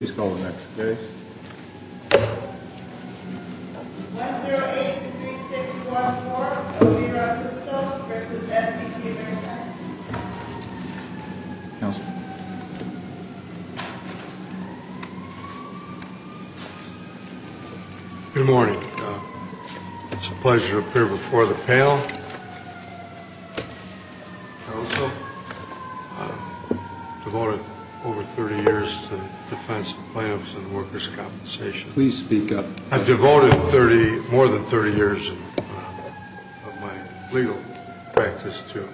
Please call the next case. 1083614 O. G. Ross Sisto v. S. B. C. of Arizona Counselor Good morning. It's a pleasure to appear before the panel. Counsel, I've devoted over 30 years to defense, plaintiffs, and workers' compensation. Please speak up. I've devoted more than 30 years of my legal practice to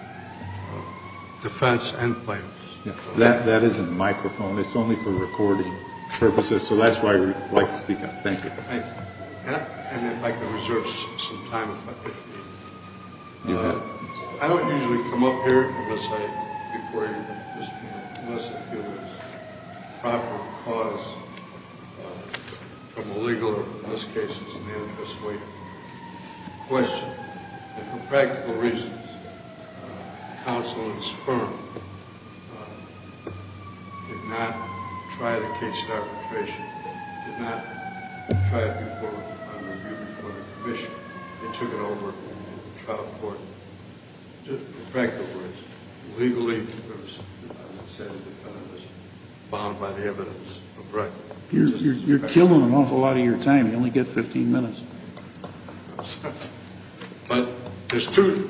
defense and plaintiffs. That isn't a microphone. It's only for recording purposes, so that's why I'd like to speak up. Thank you. I'd like to reserve some time if I could. I don't usually come up here unless I feel there's a proper cause from a legal or, in most cases, an antitrust lawyer. Question. For practical reasons, counsel and his firm did not try the case in arbitration. They did not try it before and review it before the commission. They took it over in the trial court. Just for practical reasons. Legally, as I said, I was bound by the evidence. You're killing an awful lot of your time. You only get 15 minutes. But there's two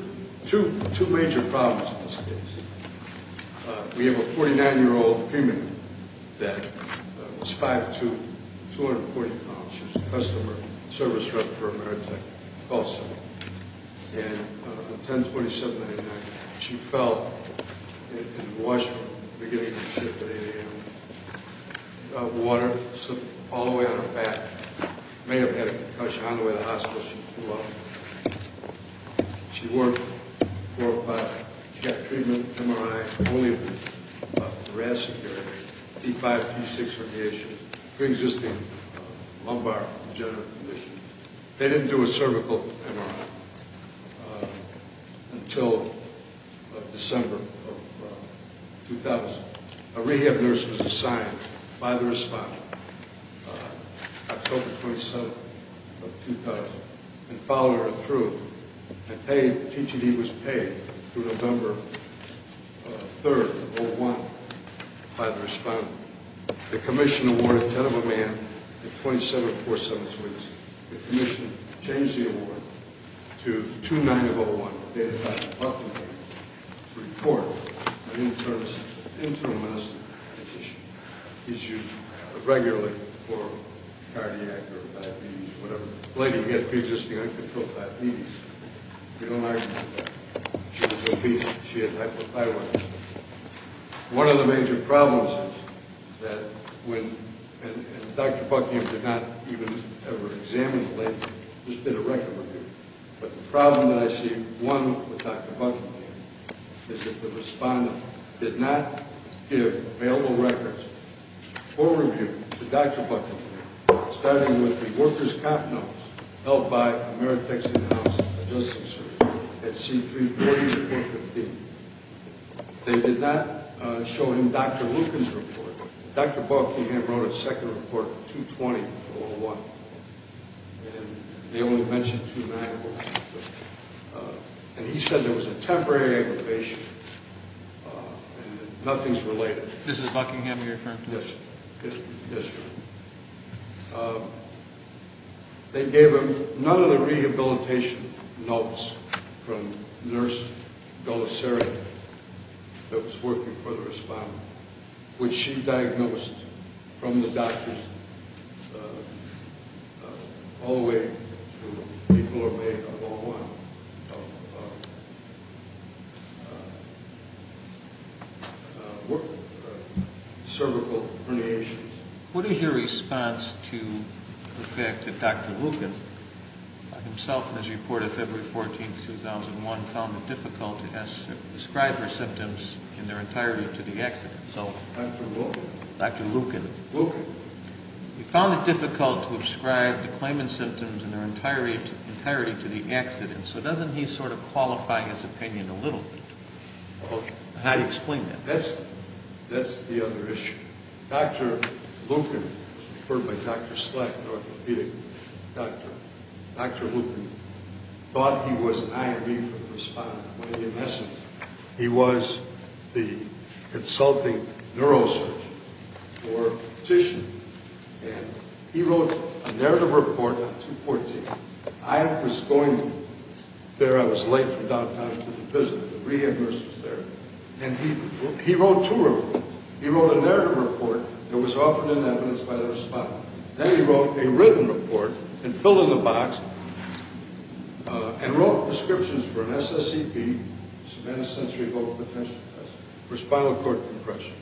major problems in this case. We have a 49-year-old female that was 5'2", 240 pounds. She was a customer service rep for Ameritech. And on 10-27-99, she fell in the washroom at the beginning of the trip at 8 a.m. Water slipped all the way on her back. May have had a concussion on the way to the hospital. She threw up. She wore a 405. She got treatment, MRI, only with a brass security. D5, D6 radiation. Pre-existing lumbar degenerative conditions. They didn't do a cervical MRI until December of 2000. A rehab nurse was assigned by the respondent, October 27th of 2000, and followed her through and paid. TTD was paid through November 3rd of 2001 by the respondent. The commission awarded 10 of a man at 27 four-sevenths weeks. The commission changed the award to 2-9-0-1, dated by the department to report an internal medicine issue. Issues regularly for cardiac or diabetes, whatever. The lady had pre-existing uncontrolled diabetes. We don't argue about that. She was obese. She had hypothyroidism. One of the major problems is that when Dr. Buckingham did not even ever examine the lady, just did a record review. But the problem that I see, one, with Dr. Buckingham, is that the respondent did not give available records for review to Dr. Buckingham, starting with the workers' comp notes held by Ameri-Texas House of Justice at C-340.15. They did not show him Dr. Lucan's report. Dr. Buckingham wrote a second report, 220-0-1. And they only mentioned 2-9-0-1. And he said there was a temporary aggravation and that nothing's related. This is Buckingham, your firm? Yes, yes, sir. They gave him none of the rehabilitation notes from Nurse Golisarian, that was working for the respondent, which she diagnosed from the doctors all the way to people who are made of 0-1, of cervical herniations. What is your response to the fact that Dr. Lucan himself, in his report of February 14, 2001, found it difficult to describe her symptoms in their entirety to the exit? Dr. Lucan? Dr. Lucan. Lucan. He found it difficult to describe the claimant's symptoms in their entirety to the accident. So doesn't he sort of qualify his opinion a little bit? How do you explain that? That's the other issue. Dr. Lucan, referred by Dr. Sleck, an orthopedic doctor, Dr. Lucan thought he was an I.R.B. for the respondent, he was the consulting neurosurgeon or physician, and he wrote a narrative report on 2-14. I was going there. I was late from downtown to the visit. The rehab nurse was there. And he wrote two reports. He wrote a narrative report that was offered in evidence by the respondent. Then he wrote a written report and filled in the box and wrote prescriptions for an SSCP, subventive sensory vocal potential test, for spinal cord compression.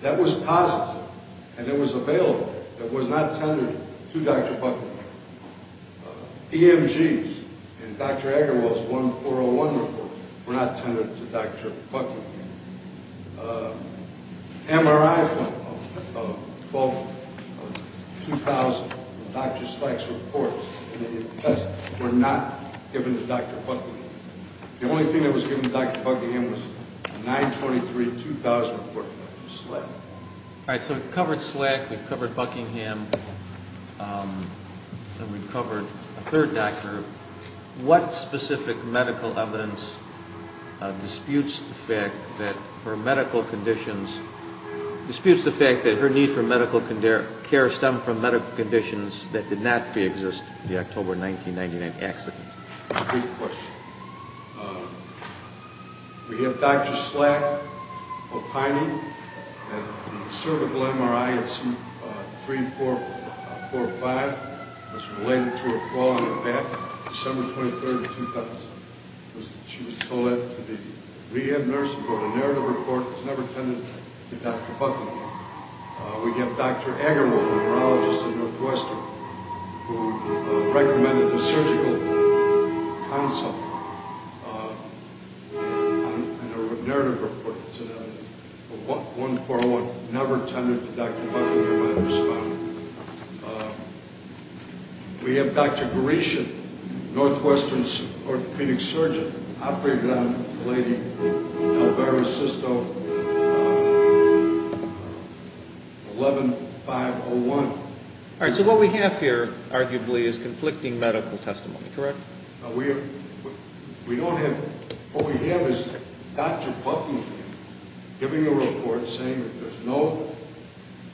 That was positive, and it was available. It was not tendered to Dr. Buckley. EMGs in Dr. Agarwal's 1-401 report were not tendered to Dr. Buckley. MRIs of 2,000 in Dr. Sleck's report were not given to Dr. Buckley. The only thing that was given to Dr. Buckley was a 9-23-2000 report from Dr. Sleck. All right, so we've covered Sleck, we've covered Buckingham, and we've covered a third doctor. What specific medical evidence disputes the fact that her medical conditions disputes the fact that her need for medical care stemmed from medical conditions that did not preexist in the October 1999 accident? Good question. We have Dr. Sleck, opining, and cervical MRI at C345 was related to her fall on her back, December 23, 2000. She was told to be re-admitted for a narrative report that was never tended to Dr. Buckley. We have Dr. Agarwal, a neurologist in Northwestern, who recommended a surgical consult on a narrative report. It's a 1-4-1, never tended to Dr. Buckley, MRI respondent. We have Dr. Gorishin, Northwestern orthopedic surgeon, operated on a lady, Delbaro Sisto, 11-5-0-1. All right, so what we have here, arguably, is conflicting medical testimony, correct? We don't have, what we have is Dr. Buckley giving a report saying that there's no,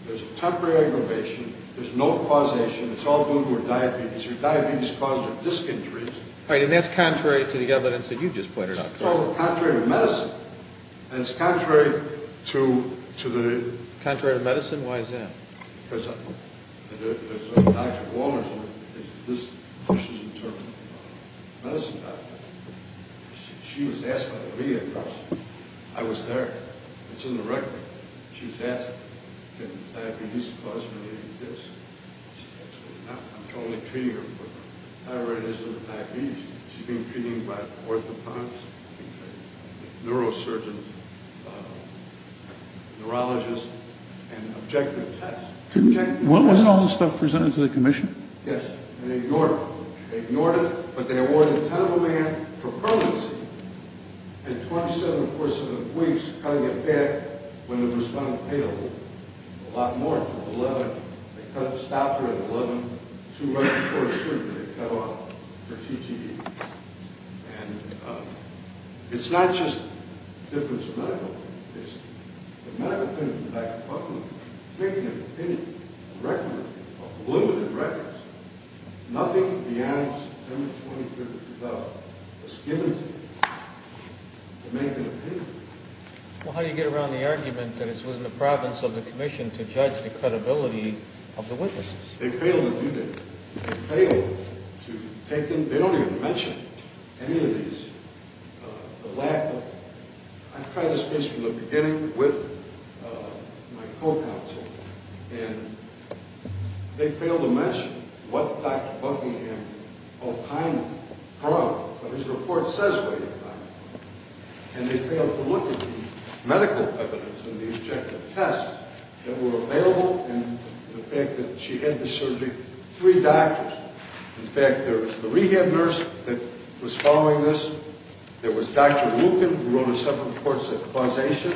there's a temporary aggravation, there's no causation, it's all due to her diabetes. Her diabetes caused her disc injuries. All right, and that's contrary to the evidence that you just pointed out, correct? So, contrary to medicine, and it's contrary to the... Dr. Walmers, this question is in terms of a medicine doctor. She was asked by the media, of course. I was there. It's in the record. She was asked, can diabetes cause her to have a disc. I'm totally treating her, but I already know she has diabetes. She's being treated by orthopontists, neurosurgeons, neurologists, and objective tests. Wasn't all this stuff presented to the commission? Yes, and they ignored it. They ignored it, but they awarded a ten of a million for permanency and 27, of course, of the weeks cutting it back when it was unpayable. A lot more. For 11, they cut it, stopped her at 11. Two months before surgery, they cut off her TTE. And it's not just a difference of medical, basically. The medical committee of the medical department is making an opinion, a record of limited records. Nothing beyond September 23rd of 2012 was given to them to make an opinion. Well, how do you get around the argument that it's within the province of the commission to judge the credibility of the witnesses? They failed to do that. They failed to take them. They don't even mention any of these. I've had a space from the beginning with my co-counsel, and they fail to mention what Dr. Buckingham all kindly brought, what his report says about it. And they failed to look at the medical evidence and the objective tests that were available and the fact that she had to surgery three doctors. In fact, there was the rehab nurse that was following this. There was Dr. Wooten, who wrote a separate report at the foundation,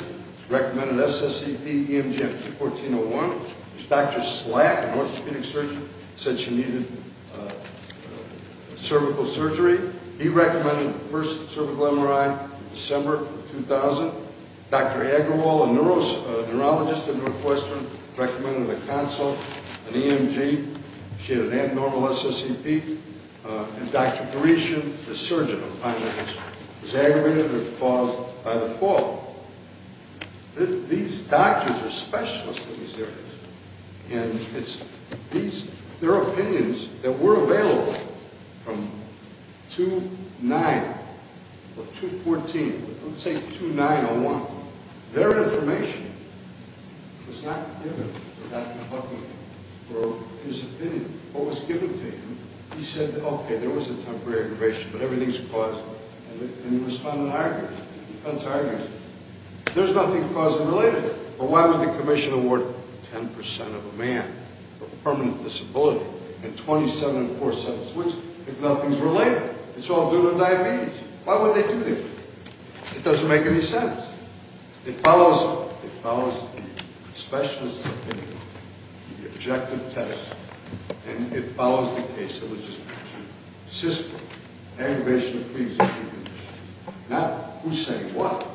recommended SSCP, EMG, and 1401. Dr. Slack, an orthopedic surgeon, said she needed cervical surgery. He recommended the first cervical MRI in December of 2000. Dr. Agrawal, a neurologist at Northwestern, recommended a consult, an EMG. She had an abnormal SSCP. And Dr. Gresham, the surgeon, was aggravated or caused by the fall. These doctors are specialists in these areas, and their opinions that were available from 2-9 or 2-14, let's say 2-901, their information was not given to Dr. Buckingham or his opinion. What was given to him? He said, okay, there was a temporary aggravation, but everything's caused. And he responded in arguments, defense arguments. There's nothing caused and related. Well, why would the commission award 10% of a man with a permanent disability and 27% of a switch if nothing's related? It's all due to diabetes. Why would they do this? It doesn't make any sense. It follows the specialist's opinion, the objective test, and it follows the case of a cystic aggravation, not who's saying what,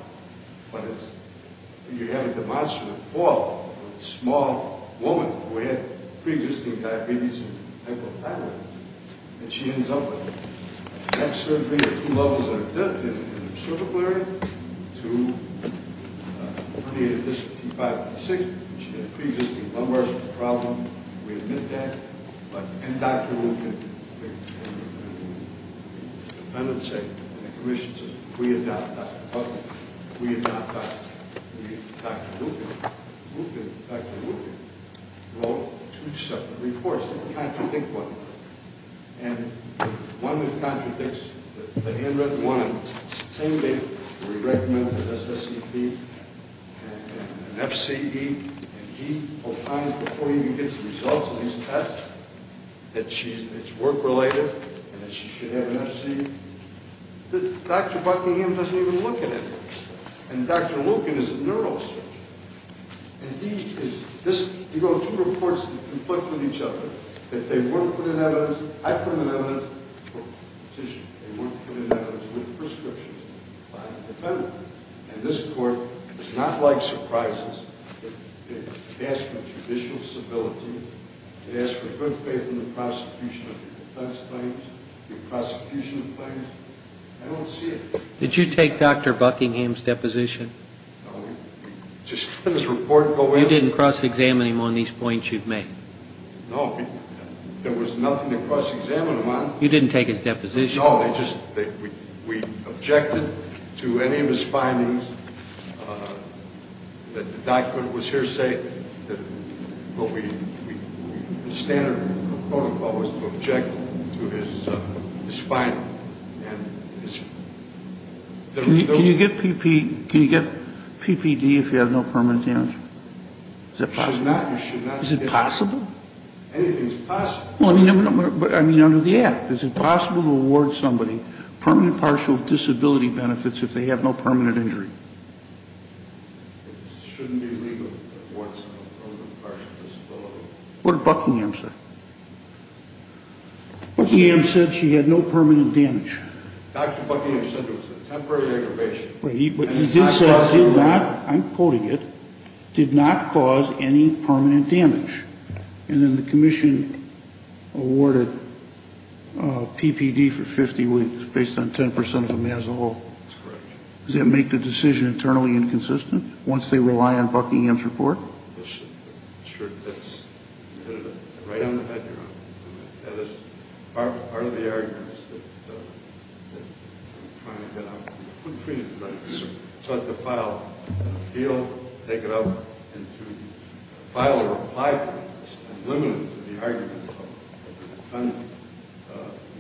but you have a demonstrative fall of a small woman who had previously diabetes and she ends up with an X-surgery. Two levels of death in her cervical area, two herniated discs, T5 and T6. She had previously lumbar problems. We admit that. And Dr. Wootken, the defendant said, and the commission said, we adopt Dr. Buckingham. We adopt Dr. Wootken. Dr. Wootken wrote two separate reports that contradict one another, and one that contradicts the handwritten one. It's the same thing where he recommends an SSCP and an FCE, and he opines before he even gets the results of his test that it's work-related and that she should have an FCE. Dr. Buckingham doesn't even look at it. And Dr. Wootken is a neurosurgeon. And these are two reports that conflict with each other. They weren't put in evidence. I put them in evidence for a petition. They weren't put in evidence with prescriptions by the defendant. And this court does not like surprises. It asks for judicial civility. It asks for good faith in the prosecution of defense claims, the prosecution of claims. I don't see it. Did you take Dr. Buckingham's deposition? No. You didn't cross-examine him on these points you've made? No. There was nothing to cross-examine him on. You didn't take his deposition? No. We objected to any of his findings. The document was hearsay. The standard protocol was to object to his findings. Can you get PPD if you have no permanent damage? You should not. Is it possible? Anything is possible. I mean under the Act. Is it possible to award somebody permanent partial disability benefits if they have no permanent injury? It shouldn't be legal to award somebody permanent partial disability. What did Buckingham say? Buckingham said she had no permanent damage. Dr. Buckingham said it was a temporary aggravation. But he did say it did not, I'm quoting it, did not cause any permanent damage. And then the commission awarded PPD for 50 weeks based on 10% of them as a whole. That's correct. Does that make the decision internally inconsistent once they rely on Buckingham's report? Sure. That's right on the head, Your Honor. That is part of the arguments that I'm trying to get out. Please. I'd like to file an appeal, take it up, and to file a reply for this,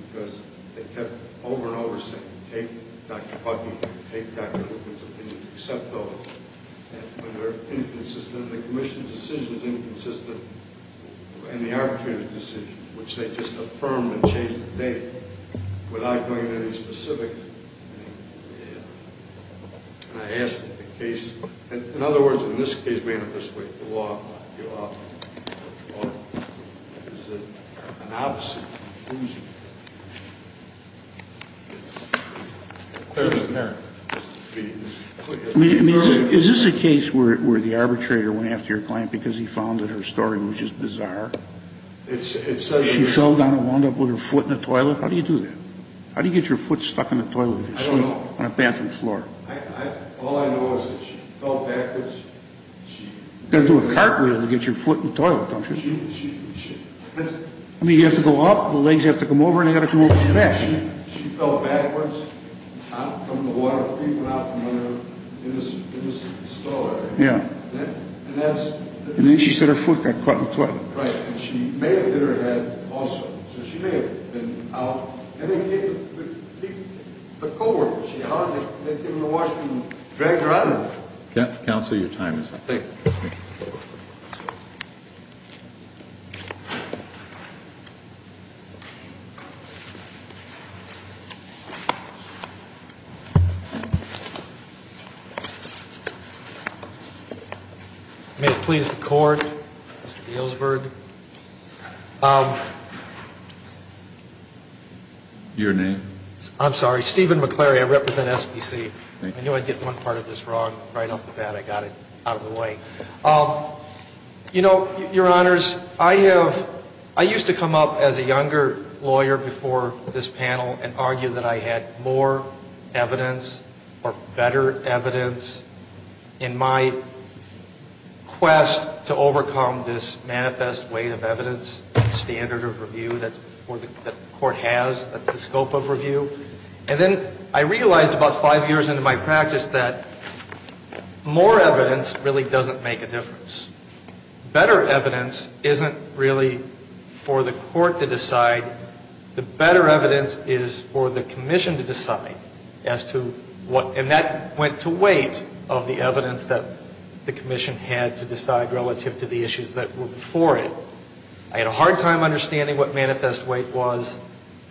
because they kept over and over saying take Dr. Buckingham, take Dr. Lucas, accept those. And when they're inconsistent, the commission's decision is inconsistent, and the arbitrator's decision, which they just affirm and change the date without going into any specifics. And I ask that the case, in other words, in this case, manifest the way the law is an opposite conclusion. It's clearly apparent. I mean, is this a case where the arbitrator went after your client because he found that her story was just bizarre? She fell down and wound up with her foot in the toilet? How do you do that? How do you get your foot stuck in the toilet? I don't know. On a bathroom floor. All I know is that she fell backwards. You've got to do a cartwheel to get your foot in the toilet, don't you? I mean, you have to go up, the legs have to come over, and they've got to come over your back. She fell backwards from the water, feet went out from under her in this stall area. Yeah. And that's the difference. And then she said her foot got caught in the toilet. Right. And she may have hit her head also. So she may have been out. And then he came with a co-worker. She hollered at him in the washroom and dragged her out of there. Counsel, your time is up. Thank you. Thank you. May it please the Court, Mr. Eelsburg. Your name? I'm sorry. Stephen McClary. I represent SBC. I knew I'd get one part of this wrong. Right off the bat, I got it out of the way. You know, Your Honors, I used to come up as a younger lawyer before this panel and argue that I had more evidence or better evidence in my quest to overcome this manifest weight of evidence, standard of review that the Court has, that's the scope of review. And then I realized about five years into my practice that more evidence really doesn't make a difference. Better evidence isn't really for the Court to decide. The better evidence is for the Commission to decide as to what, and that went to weight of the evidence that the Commission had to decide relative to the issues that were before it. I had a hard time understanding what manifest weight was.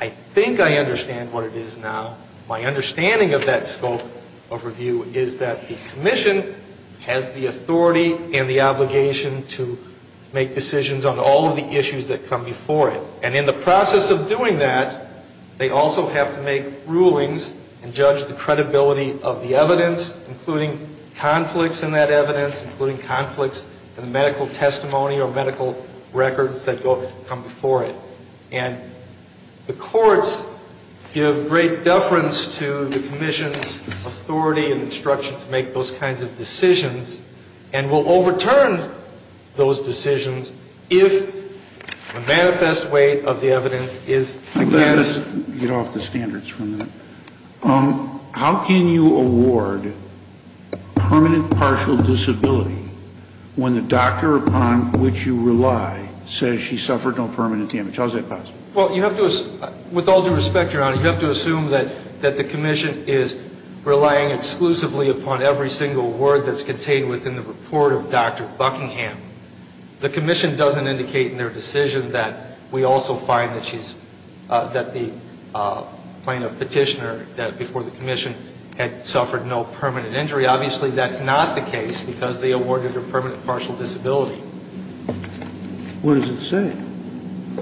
I think I understand what it is now. My understanding of that scope of review is that the Commission has the authority and the obligation to make decisions on all of the issues that come before it. And in the process of doing that, they also have to make rulings and judge the credibility of the evidence, including conflicts in that evidence, including conflicts in the medical testimony or medical records that come before it. And the courts give great deference to the Commission's authority and instruction to make those kinds of decisions and will overturn those decisions if the manifest weight of the evidence is against. Let me just get off the standards for a minute. How can you award permanent partial disability when the doctor upon which you rely says she suffered no permanent damage? How is that possible? Well, you have to assume, with all due respect, Your Honor, you have to assume that the Commission is relying exclusively upon every single word that's contained within the report of Dr. Buckingham. The Commission doesn't indicate in their decision that we also find that she's, that the plaintiff petitioner before the Commission had suffered no permanent injury. Obviously, that's not the case because they awarded her permanent partial disability. What does it say?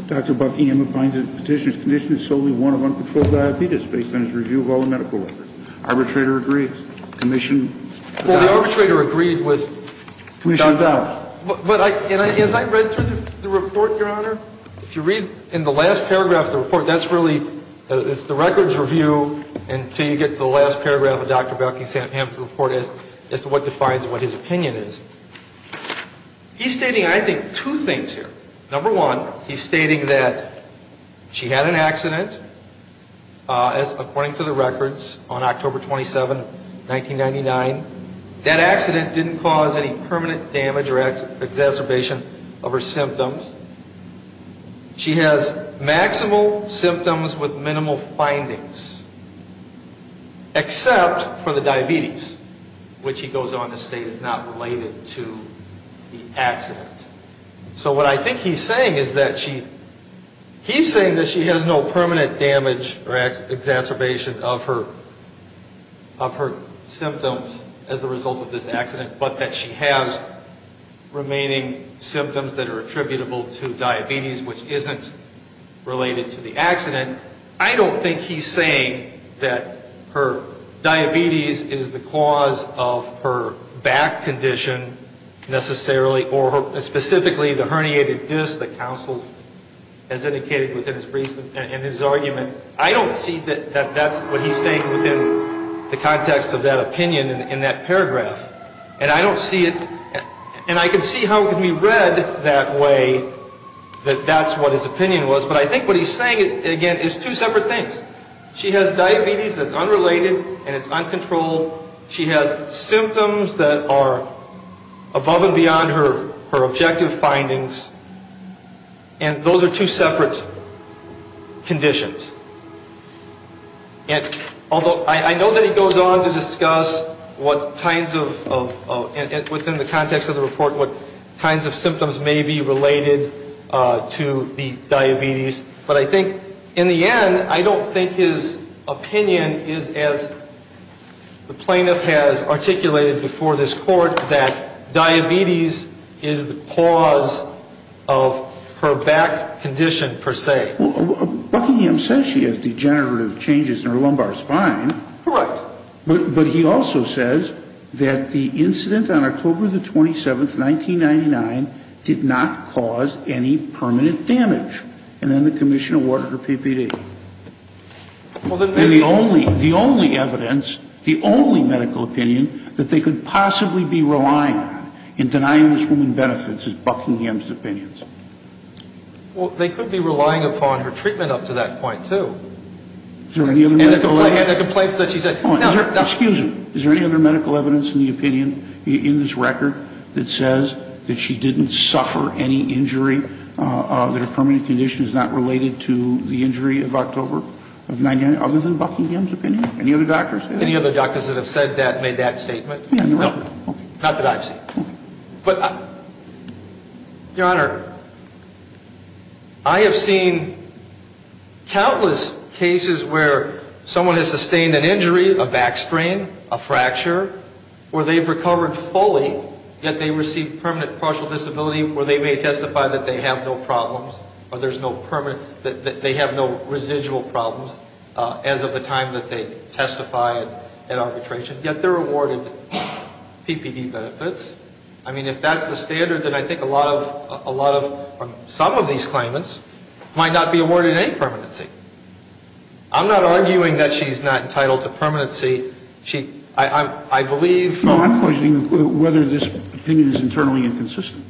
Dr. Buckingham finds that the petitioner's condition is solely one of uncontrolled diabetes based on his review of all the medical records. Arbitrator agrees. Commission doubts. Well, the arbitrator agreed with Dr. Buckingham. Commission doubts. But as I read through the report, Your Honor, if you read in the last paragraph of the report, that's really, it's the records review until you get to the last paragraph of Dr. Buckingham's report as to what defines what his opinion is. He's stating, I think, two things here. Number one, he's stating that she had an accident, according to the records, on October 27, 1999. That accident didn't cause any permanent damage or exacerbation of her symptoms. She has maximal symptoms with minimal findings, except for the diabetes, which he goes on to state is not related to the accident. So what I think he's saying is that she, he's saying that she has no permanent damage or exacerbation of her symptoms as a result of this accident, but that she has remaining symptoms that are attributable to diabetes, which isn't related to the accident. And I don't think he's saying that her diabetes is the cause of her back condition, necessarily, or specifically the herniated disc that counsel has indicated in his argument. I don't see that that's what he's saying within the context of that opinion in that paragraph. And I don't see it, and I can see how it can be read that way, that that's what his opinion was. But I think what he's saying, again, is two separate things. She has diabetes that's unrelated and it's uncontrolled. She has symptoms that are above and beyond her objective findings. And those are two separate conditions. And although I know that he goes on to discuss what kinds of, within the context of the report, what kinds of symptoms may be related to the diabetes, but I think, in the end, I don't think his opinion is, as the plaintiff has articulated before this court, that diabetes is the cause of her back condition, per se. Buckingham says she has degenerative changes in her lumbar spine. Correct. But he also says that the incident on October the 27th, 1999, did not cause any permanent damage, and then the commission awarded her PPD. And the only evidence, the only medical opinion that they could possibly be relying on in denying this woman benefits is Buckingham's opinions. Well, they could be relying upon her treatment up to that point, too. Is there any other medical evidence? Excuse me. Is there any other medical evidence in the opinion in this record that says that she didn't suffer any injury, that her permanent condition is not related to the injury of October of 1999, other than Buckingham's opinion? Any other doctors? Any other doctors that have said that, made that statement? No. Not that I've seen. But, Your Honor, I have seen countless cases where someone has sustained an injury, a back strain, a fracture, where they've recovered fully, yet they receive permanent partial disability, where they may testify that they have no problems, or there's no permanent that they have no residual problems as of the time that they testified at arbitration, yet they're awarded PPD benefits. I mean, if that's the standard, then I think a lot of, some of these claimants might not be awarded any permanency. I'm not arguing that she's not entitled to permanency. She, I believe... No, I'm questioning whether this opinion is internally inconsistent.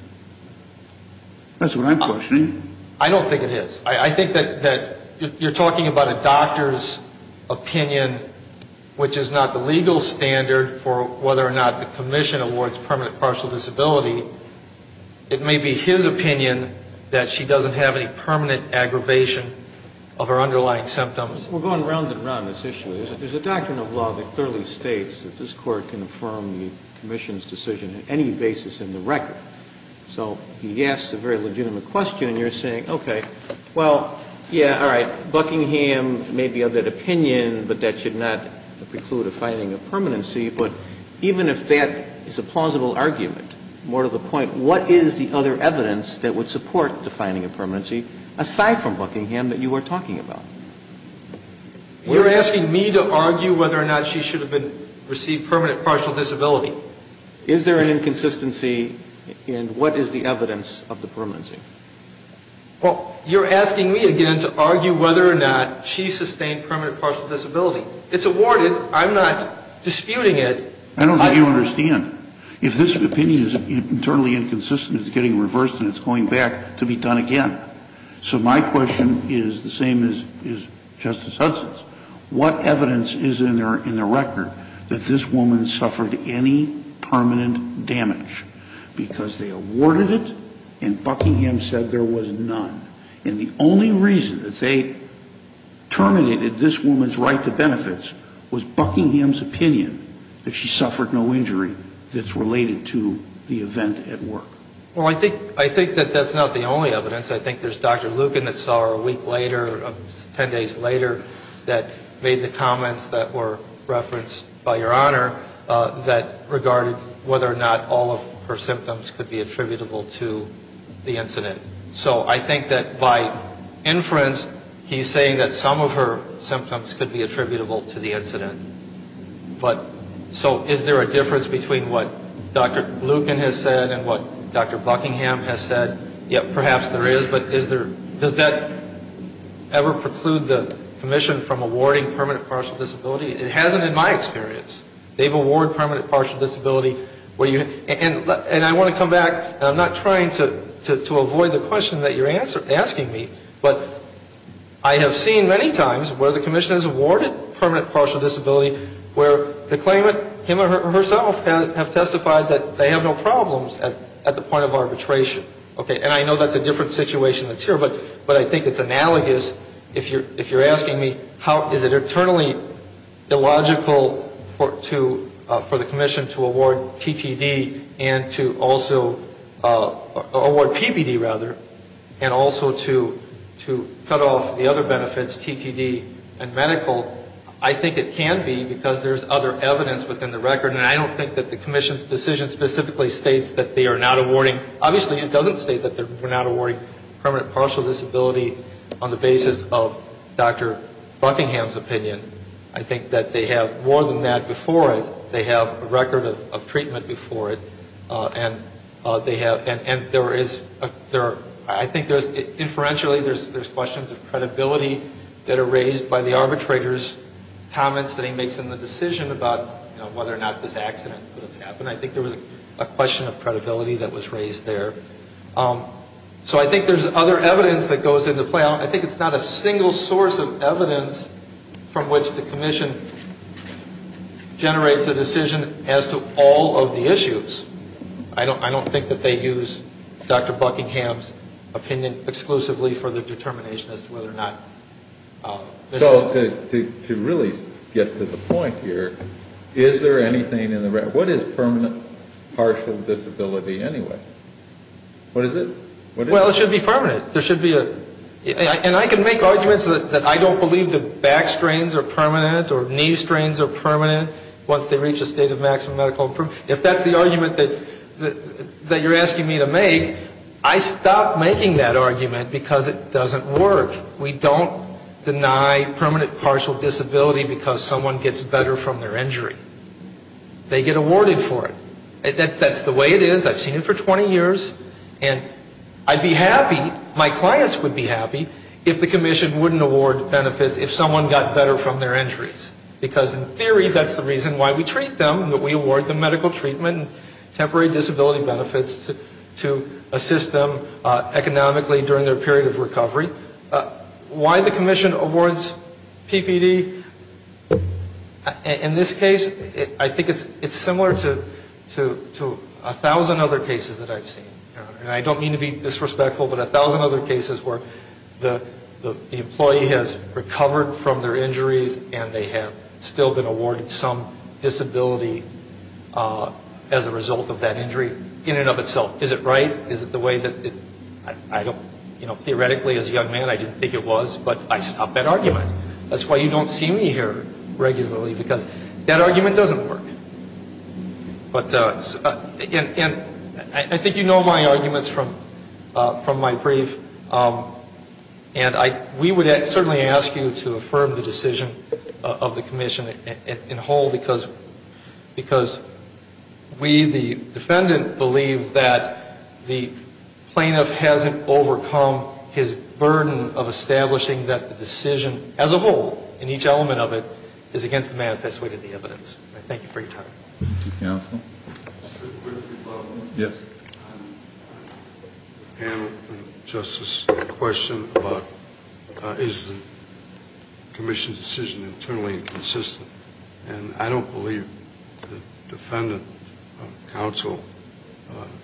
That's what I'm questioning. I don't think it is. I think that you're talking about a doctor's opinion, which is not the legal standard for whether or not the commission awards permanent partial disability. It may be his opinion that she doesn't have any permanent aggravation of her underlying symptoms. We're going round and round on this issue. There's a doctrine of law that clearly states that this Court can affirm the commission's decision on any basis in the record. So he asks a very legitimate question, and you're saying, okay, well, yeah, all right, Buckingham may be of that opinion, but that should not preclude a finding of permanency. But even if that is a plausible argument, more to the point, what is the other evidence that would support defining a permanency, aside from Buckingham, that you are talking about? You're asking me to argue whether or not she should have received permanent partial disability. Is there an inconsistency in what is the evidence of the permanency? Well, you're asking me again to argue whether or not she sustained permanent partial disability. It's awarded. I'm not disputing it. I don't think you understand. If this opinion is internally inconsistent, it's getting reversed and it's going back to be done again. So my question is the same as Justice Hudson's. What evidence is in the record that this woman suffered any permanent damage? Because they awarded it and Buckingham said there was none. And the only reason that they terminated this woman's right to benefits was Buckingham's opinion that she suffered no injury that's related to the event at work. Well, I think that that's not the only evidence. I think there's Dr. Lucan that saw her a week later, 10 days later, that made the comments that were referenced by Your Honor that regarded whether or not all of her symptoms could be attributable to the incident. So I think that by inference, he's saying that some of her symptoms could be attributable to the incident. But so is there a difference between what Dr. Lucan has said and what Dr. Buckingham has said? Yes, perhaps there is. But does that ever preclude the Commission from awarding permanent partial disability? It hasn't in my experience. They've awarded permanent partial disability. And I want to come back, and I'm not trying to avoid the question that you're asking me, but I have seen many times where the Commission has awarded permanent partial disability where the claimant, him or herself, have testified that they have no problems at the point of arbitration. Okay. And I know that's a different situation that's here, but I think it's analogous if you're asking me how is it internally illogical for the Commission to award TTD and to also award PPD, rather, and also to cut off the other benefits, TTD and medical, I think it can be because there's other evidence within the record. And I don't think that the Commission's decision specifically states that they are not awarding. Obviously, it doesn't state that we're not awarding permanent partial disability on the basis of Dr. Buckingham's opinion. I think that they have more than that before it. They have a record of treatment before it. And there is, I think there's, inferentially, there's questions of credibility that are raised by the arbitrator's comments that he makes in the decision about whether or not this accident would have happened. I think there was a question of credibility that was raised there. So I think there's other evidence that goes into play. I think it's not a single source of evidence from which the Commission generates a decision as to all of the issues. I don't think that they use Dr. Buckingham's opinion exclusively for the determination as to whether or not this is. Well, to really get to the point here, is there anything in the record, what is permanent partial disability anyway? What is it? Well, it should be permanent. There should be a, and I can make arguments that I don't believe the back strains are permanent or knee strains are permanent once they reach a state of maximum medical improvement. If that's the argument that you're asking me to make, I stop making that argument because it doesn't work. We don't deny permanent partial disability because someone gets better from their injury. They get awarded for it. That's the way it is. I've seen it for 20 years. And I'd be happy, my clients would be happy, if the Commission wouldn't award benefits if someone got better from their injuries. Because in theory, that's the reason why we treat them, that we award them medical treatment, temporary disability benefits to assist them economically during their period of recovery. Why the Commission awards PPD, in this case, I think it's similar to a thousand other cases that I've seen. And I don't mean to be disrespectful, but a thousand other cases where the employee has recovered from their injuries and they have still been awarded some disability as a result of that injury in and of itself. Is it right? Is it the way that I don't, you know, theoretically, as a young man, I didn't think it was, but I stopped that argument. That's why you don't see me here regularly, because that argument doesn't work. And I think you know my arguments from my brief. And we would certainly ask you to affirm the decision of the Commission in whole because we, the defendant, believe that the plaintiff hasn't overcome his burden of establishing that the decision as a whole, in each element of it, is against the manifest way of the evidence. I thank you for your time. Thank you, Counsel. Mr. Quigley, if I may? Yes. I have a question about, is the Commission's decision internally consistent? And I don't believe the defendant, Counsel,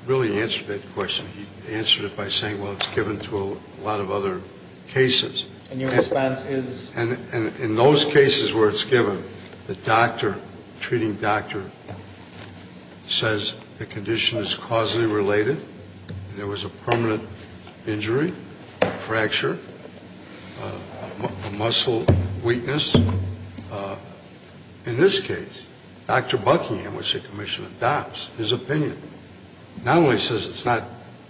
really answered that question. He answered it by saying, well, it's given to a lot of other cases. And your response is? And in those cases where it's given, the doctor, the treating doctor, says the condition is causally related, there was a permanent injury, fracture, muscle weakness. In this case, Dr. Buckingham, which the Commission adopts, his opinion not only says it's not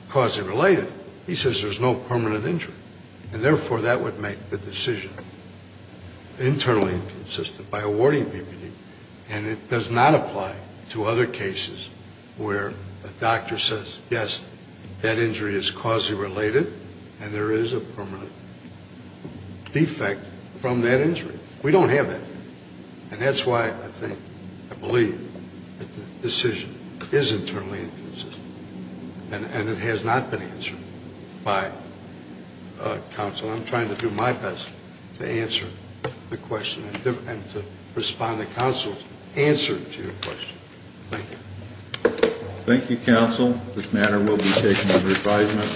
causally related, he says there's no permanent injury. And therefore, that would make the decision internally inconsistent by awarding BVD. And it does not apply to other cases where a doctor says, yes, that injury is causally related and there is a permanent defect from that injury. We don't have that. And that's why I think, I believe, that the decision is internally inconsistent. And it has not been answered by Counsel. I'm trying to do my best to answer the question and to respond to Counsel's answer to your question. Thank you. Thank you, Counsel. This matter will be taken under advisement.